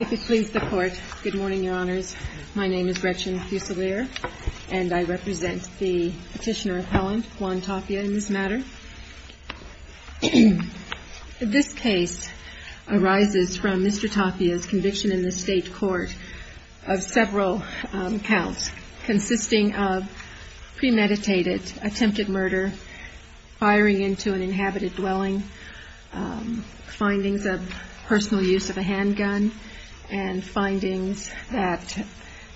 Good morning, Your Honors. My name is Gretchen Fuselier, and I represent the petitioner appellant, Juan Tapia, in this matter. This case arises from Mr. Tapia's conviction in the state court of several counts, consisting of premeditated attempted murder, firing into an inhabited dwelling, findings of personal use of a handgun, and findings that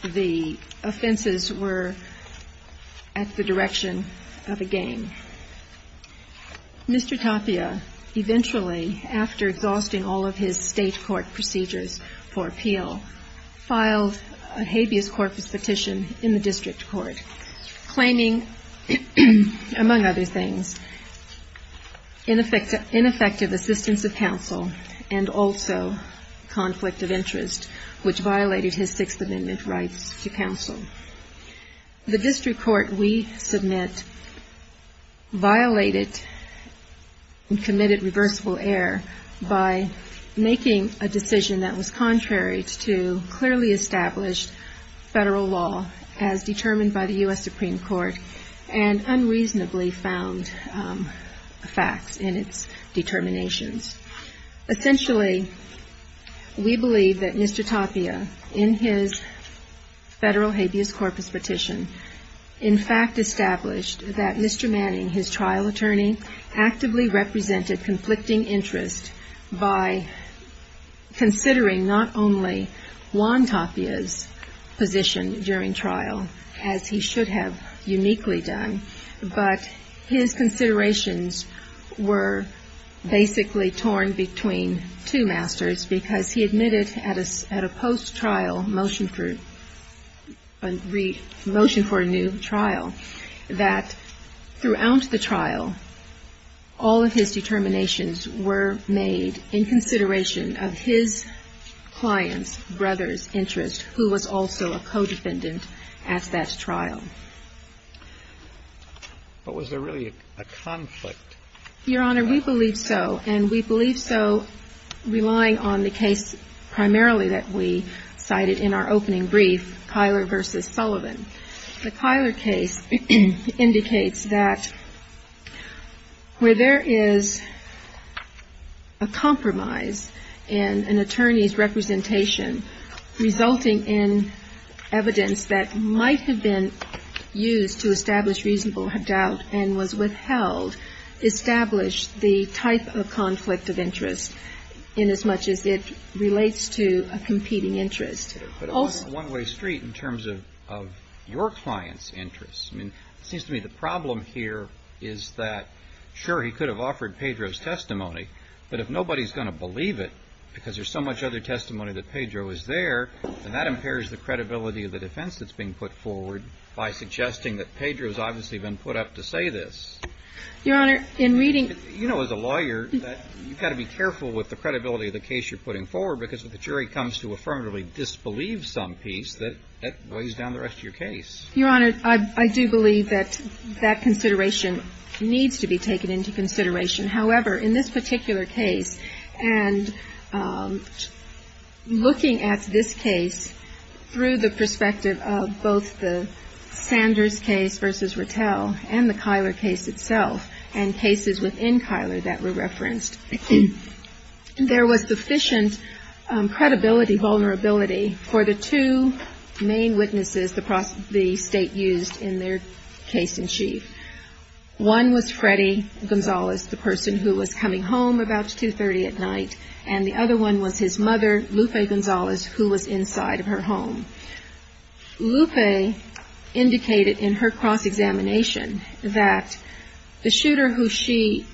the offenses were at the direction of a gang. Mr. Tapia, eventually, after exhausting all of his state court procedures for appeal, filed a habeas corpus petition in the district court, claiming, among other things, ineffective assistance of counsel and also conflict of interest, which violated his Sixth Amendment rights to counsel. The district court we submit violated and committed reversible error by making a decision that was contrary to clearly established federal law as determined by the U.S. Supreme Court and unreasonably found facts in its determinations. Essentially, we believe that Mr. Tapia, in his federal habeas corpus petition, in fact established that Mr. Manning, his trial attorney, actively represented conflicting interest by considering not only Juan Tapia's position during trial, as he should have uniquely done, but his considerations were basically torn between two masters because he admitted at a post-trial motion for a new trial that throughout the trial, all of his determinations were made in consideration of his client's brother's interest, who was also a co-defendant at that trial. But was there really a conflict? Your Honor, we believe so, and we believe so relying on the case primarily that we cited The Kyler case indicates that where there is a compromise in an attorney's representation resulting in evidence that might have been used to establish reasonable doubt and was withheld established the type of conflict of interest inasmuch as it relates to a competing interest. But on a one-way street in terms of your client's interests, I mean, it seems to me the problem here is that, sure, he could have offered Pedro's testimony, but if nobody is going to believe it because there's so much other testimony that Pedro is there, then that impairs the credibility of the defense that's being put forward by suggesting that Pedro's obviously been put up to say this. Your Honor, in reading... You know, as a lawyer, you've got to be careful with the credibility of the case you're putting forward. You can't believe some piece that weighs down the rest of your case. Your Honor, I do believe that that consideration needs to be taken into consideration. However, in this particular case, and looking at this case through the perspective of both the Sanders case versus Rattel and the Kyler case itself and cases within Kyler that were referenced, there was sufficient credibility vulnerability for the two main witnesses the State used in their case-in-chief. One was Freddy Gonzalez, the person who was coming home about 2.30 at night, and the other one was his mother, Lupe Gonzalez, who was inside of her home. Lupe indicated in her cross-examination that the shooter who she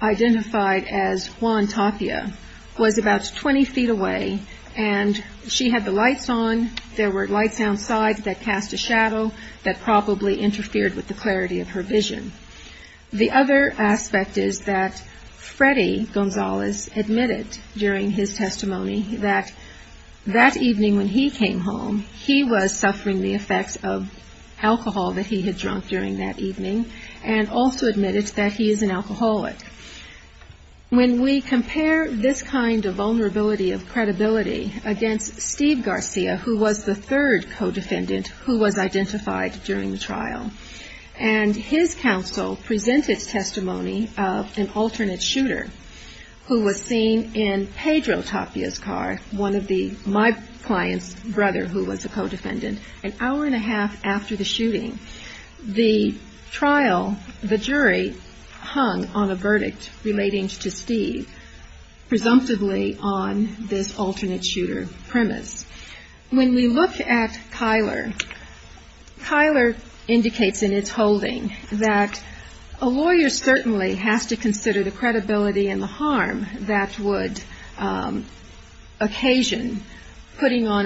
identified as Juan Tapia was about 20 feet away, and she had the lights on. There were lights outside that cast a shadow that probably interfered with the clarity of her vision. The other aspect is that Freddy Gonzalez admitted during his testimony that that evening when he came home, he was suffering the effects of alcohol that he had drunk during that evening, and also admitted that he is an alcoholic. When we compare this kind of vulnerability of credibility against Steve Garcia, who was the third co-defendant who was identified during the trial, and his counsel presented testimony of an alternate brother who was a co-defendant, an hour and a half after the shooting, the trial, the jury hung on a verdict relating to Steve presumptively on this alternate shooter premise. When we look at Kyler, Kyler indicates in its holding that a lawyer certainly has to consider the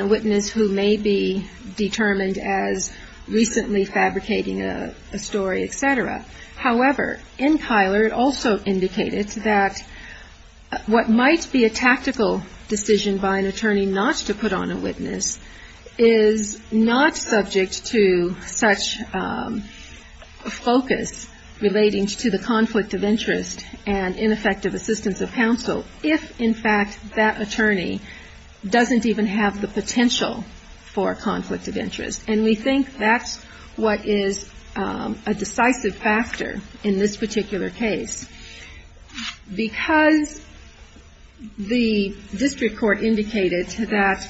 witness who may be determined as recently fabricating a story, et cetera. However, in Kyler it also indicated that what might be a tactical decision by an attorney not to put on a witness is not subject to such a focus relating to the conflict of interest and ineffective assistance of counsel for conflict of interest. And we think that's what is a decisive factor in this particular case. Because the district court indicated that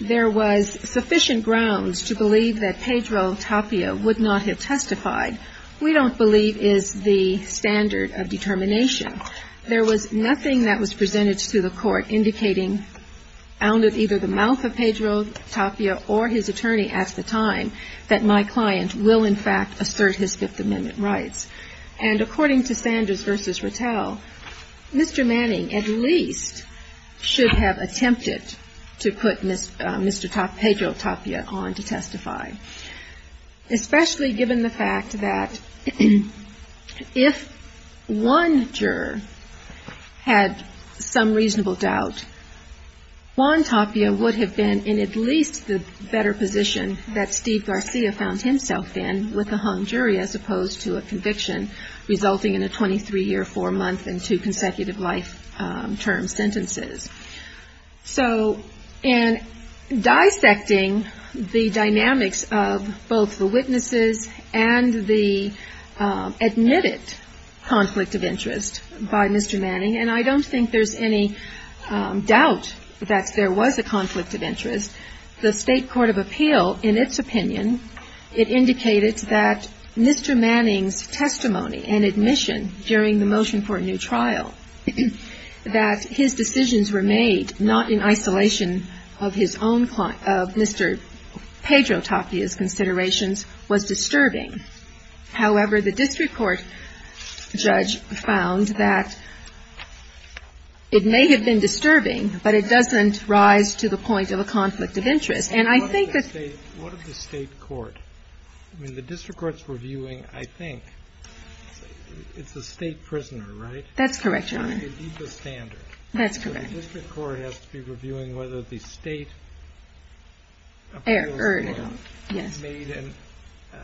there was sufficient grounds to believe that Pedro Tapia would not have testified, we don't believe is the standard of determination. There was nothing that was presented to the court indicating out of either the mouth of Pedro Tapia or his attorney at the time that my client will, in fact, assert his Fifth Amendment rights. And according to Sanders v. Rattell, Mr. Manning at least should have attempted to put Mr. Tapia on to testify, especially given the fact that if one juror had some reasonable doubt, Juan Tapia would have been in at least the better position that Steve Garcia found himself in with a hung jury as opposed to a conviction resulting in a 23-year, four-month and two consecutive life term sentences. So in dissecting the dynamics of both the witnesses and the admitted conflict of interest by Mr. Manning, and I don't think there's any doubt that there was a conflict of interest, the State Court of Appeal, in its opinion, it indicated that Mr. Manning's testimony and admission during the motion for a new trial, that his decisions related to Mr. Tapia's were made not in isolation of his own, of Mr. Pedro Tapia's considerations, was disturbing. However, the district court judge found that it may have been disturbing, but it doesn't rise to the point of a conflict of interest. And I think that the State Court, I mean, the district courts were viewing, I think, it's a State prisoner, right? That's correct, Your Honor. That's a deeper standard. That's correct. So the district court has to be reviewing whether the State appeals were made in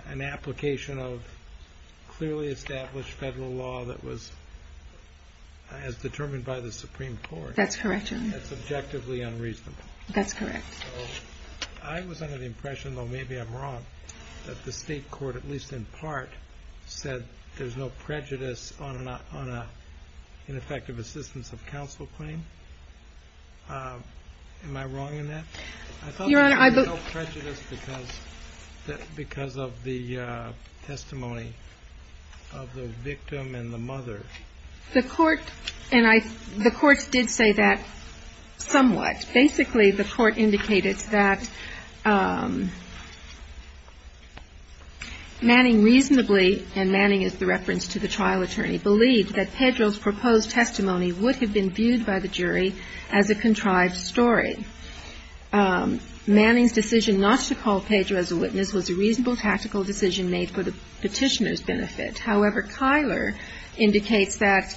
an application of clearly established federal law that was as determined by the Supreme Court. That's correct, Your Honor. That's objectively unreasonable. That's correct. So I was under the impression, though maybe I'm wrong, that the State Court, at least in part, said there's no prejudice on an ineffective assistance of counsel claim. Am I wrong in that? I thought there was no prejudice because of the testimony of the victim and the mother. The Court, and I, the Court did say that somewhat. Basically, the Court indicated that Manning reasonably, and Manning is the reference to the trial attorney, believed that Pedro's proposed testimony would have been viewed by the jury as a contrived story. Manning's decision not to call Pedro as a witness was a reasonable tactical decision made for the Petitioner's benefit. However, Kyler indicates that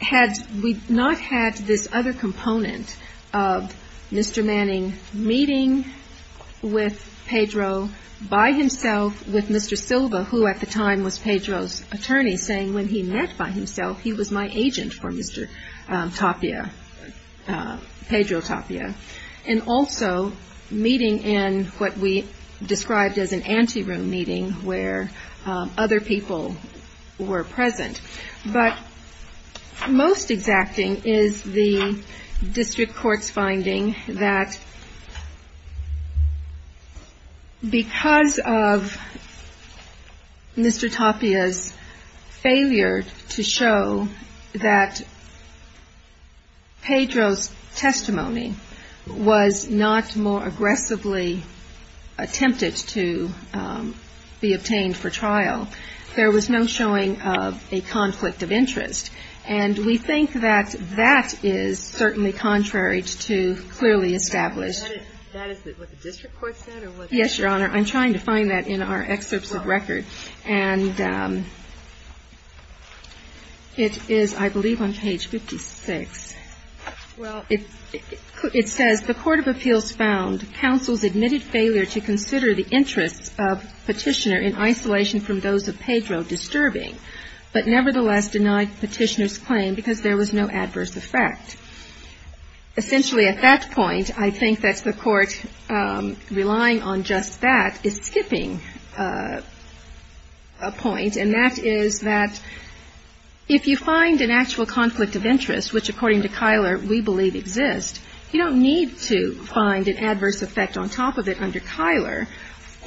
had we not had this other component of Mr. Manning meeting with Pedro by himself with Mr. Silva, who at the time was Pedro's attorney, saying when he met by himself, he was my agent for Mr. Tapia, Pedro Tapia, and also meeting in what we described as an anteroom meeting where other people were present. But most exacting is the district court's finding that because of Pedro Tapia's testimony, Mr. Tapia's failure to show that Pedro's testimony was not more aggressively attempted to be obtained for trial, there was no showing of a conflict of interest. And we think that that is certainly contrary to clearly established. That is what the district court said? Yes, Your Honor. I'm trying to find that in our excerpts of record. And it is, I believe, on page 56. Well, it says the court of appeals found counsel's admitted failure to consider the interests of Petitioner in isolation from those of Pedro disturbing, but nevertheless denied Petitioner's claim because there was no adverse effect. Essentially, at that point, I think that's the court relying on just that is skipping a point, and that is that if you find an actual conflict of interest, which, according to Kyler, we believe exists, you don't need to find an adverse effect on top of it under Kyler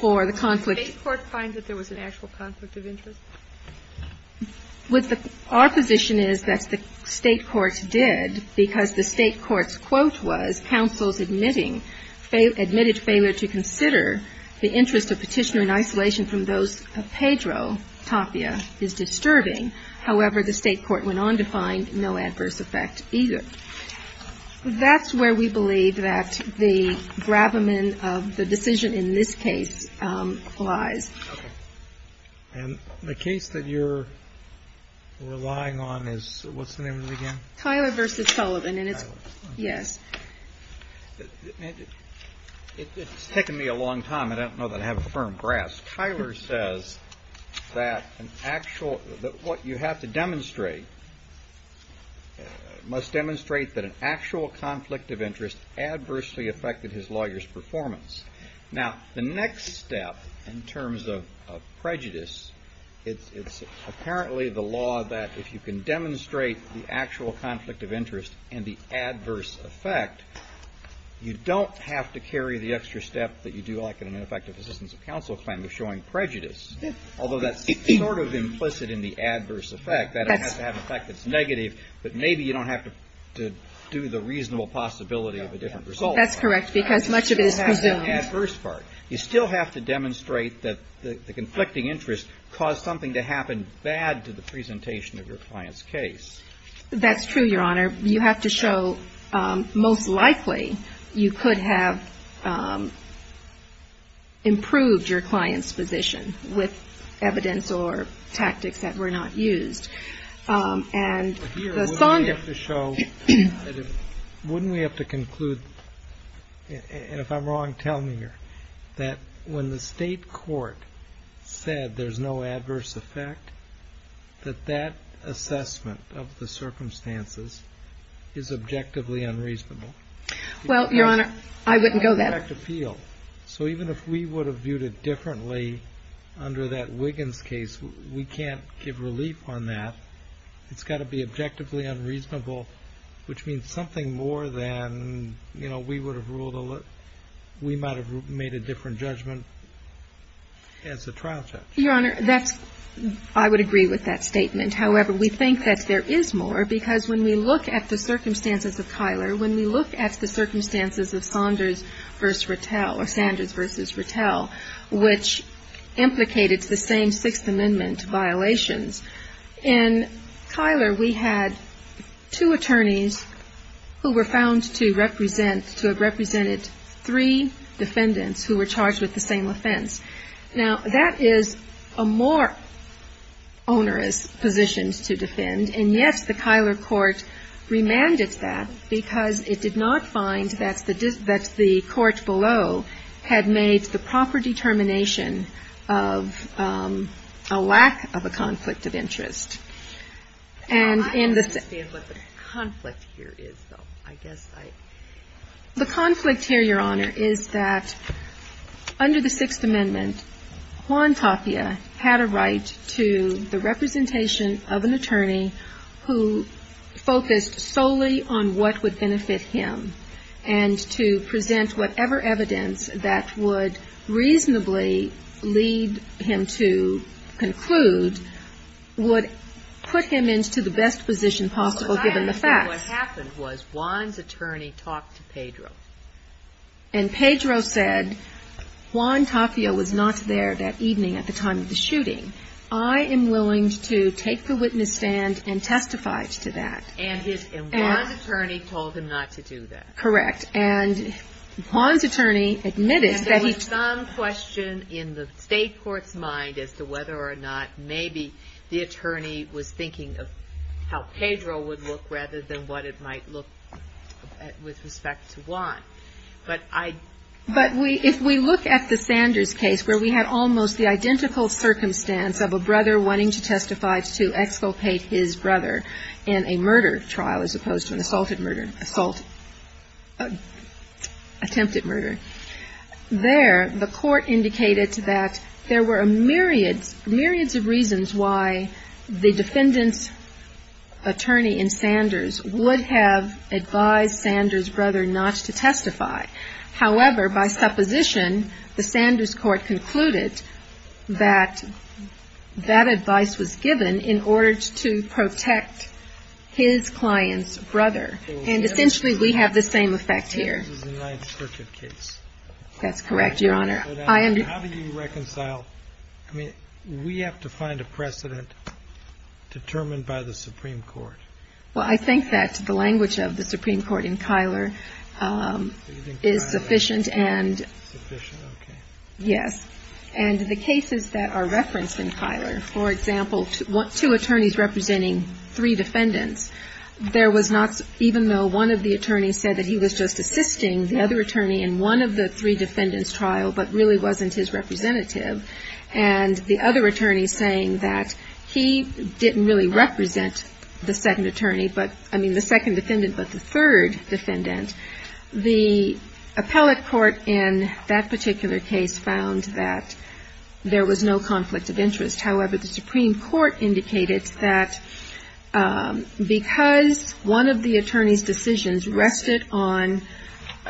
for the conflict. Did the state court find that there was an actual conflict of interest? Our position is that the state court did because the state court's quote was counsel's admitting admitted failure to consider the interest of Petitioner in isolation from those of Pedro Tapia is disturbing. However, the state court went on to find no adverse effect either. That's where we believe that the gravamen of the decision in this case lies. And the case that you're relying on is, what's the name of the game? Kyler versus Sullivan, and it's, yes. It's taken me a long time. I don't know that I have a firm grasp. Kyler says that an actual, that what you have to demonstrate must demonstrate that an actual conflict of interest adversely affected his lawyer's performance. Now, the next step in terms of prejudice, it's apparently the law that if you can demonstrate the actual conflict of interest and the adverse effect, you don't have to carry the extra step that you do like in an effective assistance of counsel claim of showing prejudice. Although that's sort of implicit in the adverse effect. That has to have an effect that's negative, but maybe you don't have to do the reasonable possibility of a different result. That's correct, because much of it is presumed. You still have to demonstrate that the conflicting interest caused something to happen bad to the presentation of your client's case. That's true, Your Honor. You have to show most likely you could have improved your client's position with evidence or tactics that were not used. And here, wouldn't we have to conclude, and if I'm wrong, tell me here, that when the state court said there's no adverse effect, that that assessment of the circumstances is objectively unreasonable? Well, Your Honor, I wouldn't go that far. So even if we would have viewed it differently under that Wiggins case, we can't give relief on that. It's got to be objectively unreasonable, which means something more than, you know, we would have ruled a little – we might have made a different judgment as a trial judge. Your Honor, that's – I would agree with that statement. However, we think that there is more, because when we look at the circumstances of Kyler, when we look at the circumstances of Saunders v. Rattell, or Sanders v. Rattell, which implicated the same Sixth Amendment violations, in Kyler, we had two attorneys who were found to represent – to have represented three defendants who were charged with the same offense. Now, that is a more onerous position to defend, and yes, the Kyler court remanded that, because it did not find that's the – that's the case. And in the – I understand what the conflict here is, though. I guess I – The conflict here, Your Honor, is that under the Sixth Amendment, Juan Tapia had a right to the representation of an attorney who focused whatever evidence that would reasonably lead him to conclude would put him into the best position possible, given the facts. So I understand what happened was Juan's attorney talked to Pedro. And Pedro said, Juan Tapia was not there that evening at the time of the shooting. I am willing to take the witness stand and testify to that. And his – and Juan's attorney told him not to do that. Correct. And Juan's attorney admitted that he – And there was some question in the State court's mind as to whether or not maybe the attorney was thinking of how Pedro would look, rather than what it might look with respect to Juan. But I – But we – if we look at the Sanders case, where we had almost the identical circumstance of a brother wanting to testify to exculpate his brother in a murder trial, as opposed to an assaulted murder – assault trial, attempted murder. There, the court indicated that there were myriads – myriads of reasons why the defendant's attorney in Sanders would have advised Sanders' brother not to testify. However, by supposition, the Sanders court concluded that that advice was given in order to protect his client's brother. And essentially, we have the same effect here. This is a Ninth Circuit case. That's correct, Your Honor. I am – How do you reconcile – I mean, we have to find a precedent determined by the Supreme Court. Well, I think that the language of the Supreme Court in Kyler is sufficient and – Do you think Kyler is sufficient? Okay. Yes. And the cases that are referenced in Kyler, for example, two attorneys representing three defendants, there was not – even though one of the attorneys said that he was just assisting the other attorney in one of the three defendants' trial, but really wasn't his representative, and the other attorney is saying that he didn't really represent the second attorney, but – I mean, the second defendant, but the third defendant. The appellate court in that particular case found that there was no conflict of interest. However, the Supreme Court indicated that because one of the attorney's decisions rested on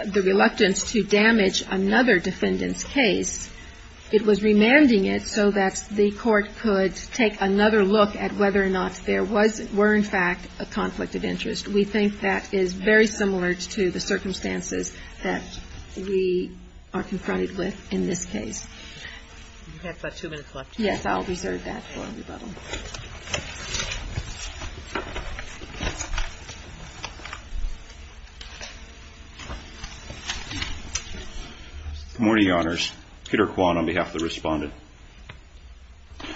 the reluctance to damage another defendant's case, it was remanding it so that the court could take another look at whether or not there was – were, in fact, a conflict of interest. We think that is very similar to the circumstances that we are confronted with in this case. You have about two minutes left. Yes, I'll reserve that for rebuttal. Okay. Good morning, Your Honors. Peter Kwan on behalf of the Respondent.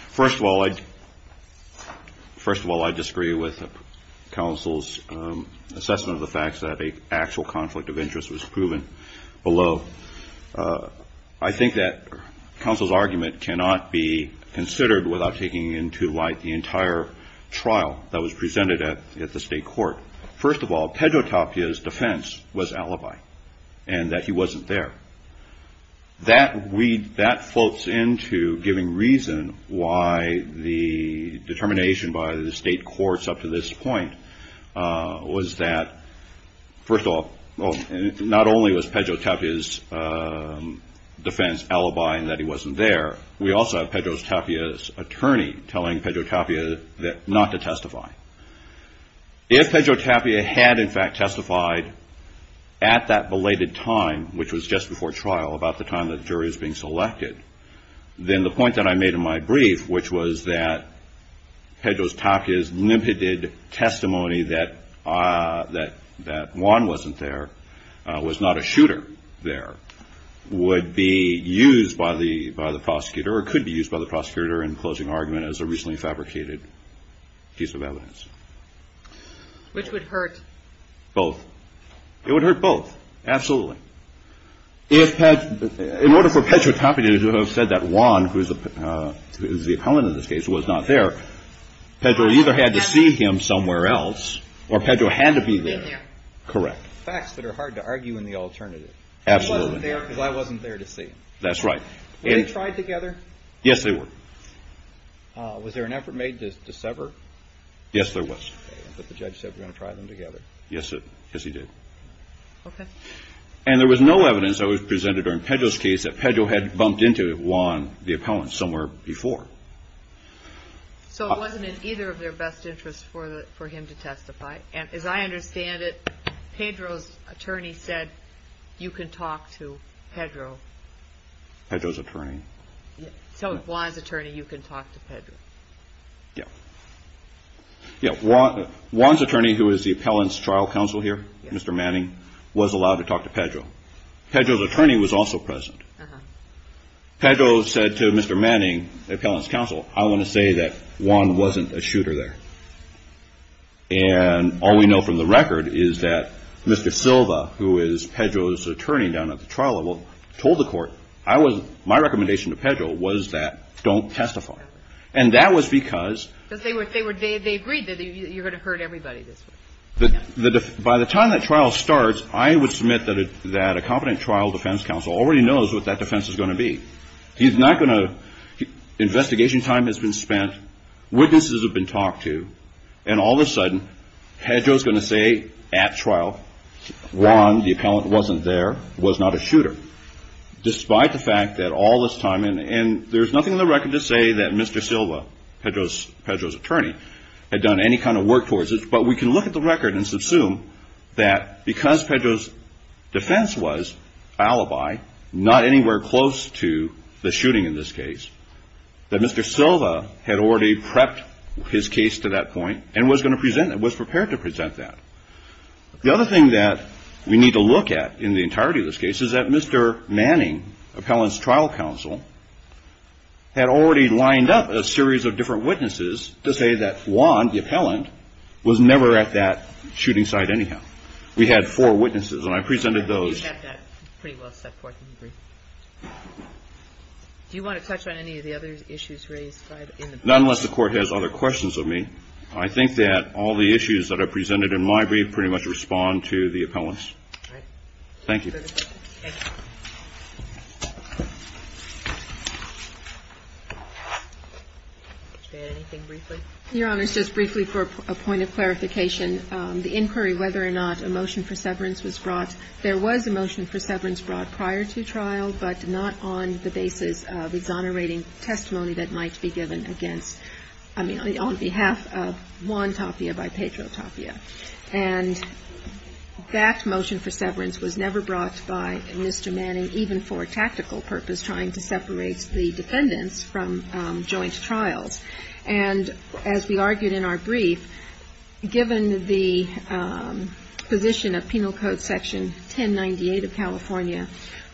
First of all, I – first of all, I disagree with counsel's assessment of the facts that an actual conflict of interest was proven below. I think that counsel's argument cannot be considered without taking into light the entire trial that was presented at the State Court. First of all, Pedrotapia's defense was alibi and that he wasn't there. That floats into giving reason why the determination by the State Courts up to this point was that, first of all, not only was Pedrotapia's defense alibi and that he wasn't there, we also have Pedrotapia's attorney telling Pedrotapia not to testify. If Pedrotapia had, in fact, testified at that belated time, which was just before trial, about the time that the jury was being selected, then the point that I made in my brief, which was that Pedrotapia's limited testimony that Kwan wasn't there, was not a shooter there, would be used by the prosecutor or could be used by the prosecutor in closing argument as a recently fabricated piece of evidence. Which would hurt? Both. It would hurt both. Absolutely. In order for Pedrotapia to have said that Kwan, who is the opponent in this case, was not there, Pedro either had to see him somewhere else or Pedro had to be there. Correct. Facts that are hard to argue in the alternative. Absolutely. He wasn't there because I wasn't there to see him. That's right. Were they tried together? Yes, they were. Was there an effort made to sever? Yes, there was. But the judge said we're going to try them together. Yes, he did. Okay. And there was no evidence that was presented during Pedro's case that Pedro had bumped into Kwan, the opponent, somewhere before. So it wasn't in either of their best interests for him to testify. As I understand it, Pedro's attorney said you can talk to Pedro. Pedro's attorney. So Kwan's attorney, you can talk to Pedro. Yes. Kwan's attorney, who is the appellant's trial counsel here, Mr. Manning, was allowed to talk to Pedro. Pedro's attorney was also present. Pedro said to Mr. Manning, the appellant's counsel, I want to say that Kwan wasn't a shooter there. And all we know from the record is that Mr. Silva, who is Pedro's attorney down at the trial level, told the court, my recommendation to Pedro was that don't testify. And that was because they agreed that you're going to hurt everybody this way. By the time that trial starts, I would submit that a competent trial defense counsel already knows what that defense is going to be. Investigation time has been spent. Witnesses have been talked to. And all of a sudden, Pedro's going to say at trial, Kwan, the appellant, wasn't there, was not a shooter. Despite the fact that all this time, and there's nothing in the record to say that Mr. Silva, Pedro's attorney, had done any kind of work towards this. But we can look at the record and assume that because Pedro's defense was alibi, not anywhere close to the shooting in this case, that Mr. Silva had already prepped his case to that point and was going to present it, was prepared to present that. The other thing that we need to look at in the entirety of this case is that Mr. Manning, appellant's trial counsel, had already lined up a series of different witnesses to say that Kwan, the appellant, was never at that shooting site anyhow. We had four witnesses, and I presented those. Do you want to touch on any of the other issues raised? Not unless the Court has other questions of me. I think that all the issues that are presented in my brief pretty much respond to the appellants. Thank you. Anything briefly? Your Honor, just briefly for a point of clarification, the inquiry whether or not a motion for severance was brought, there was a motion for severance brought prior to trial, but not on the basis of exonerating testimony that might be given against, I mean, on behalf of Kwan Tapia by Pedro Tapia. And that motion for severance was never brought by Mr. Manning, even for a tactical purpose, trying to separate the defendants from joint trials. And as we argued in our brief, given the position of Penal Code Section 1098 of California,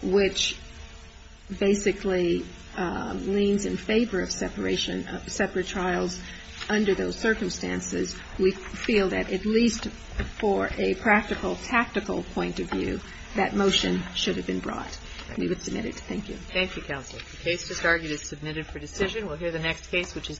which basically leans in favor of separation of separate trials under those circumstances, we feel that at least for a practical, tactical point of view, that motion should have been brought. We would submit it. Thank you. Thank you, counsel. The case just argued is submitted for decision. We'll hear the next case, which is.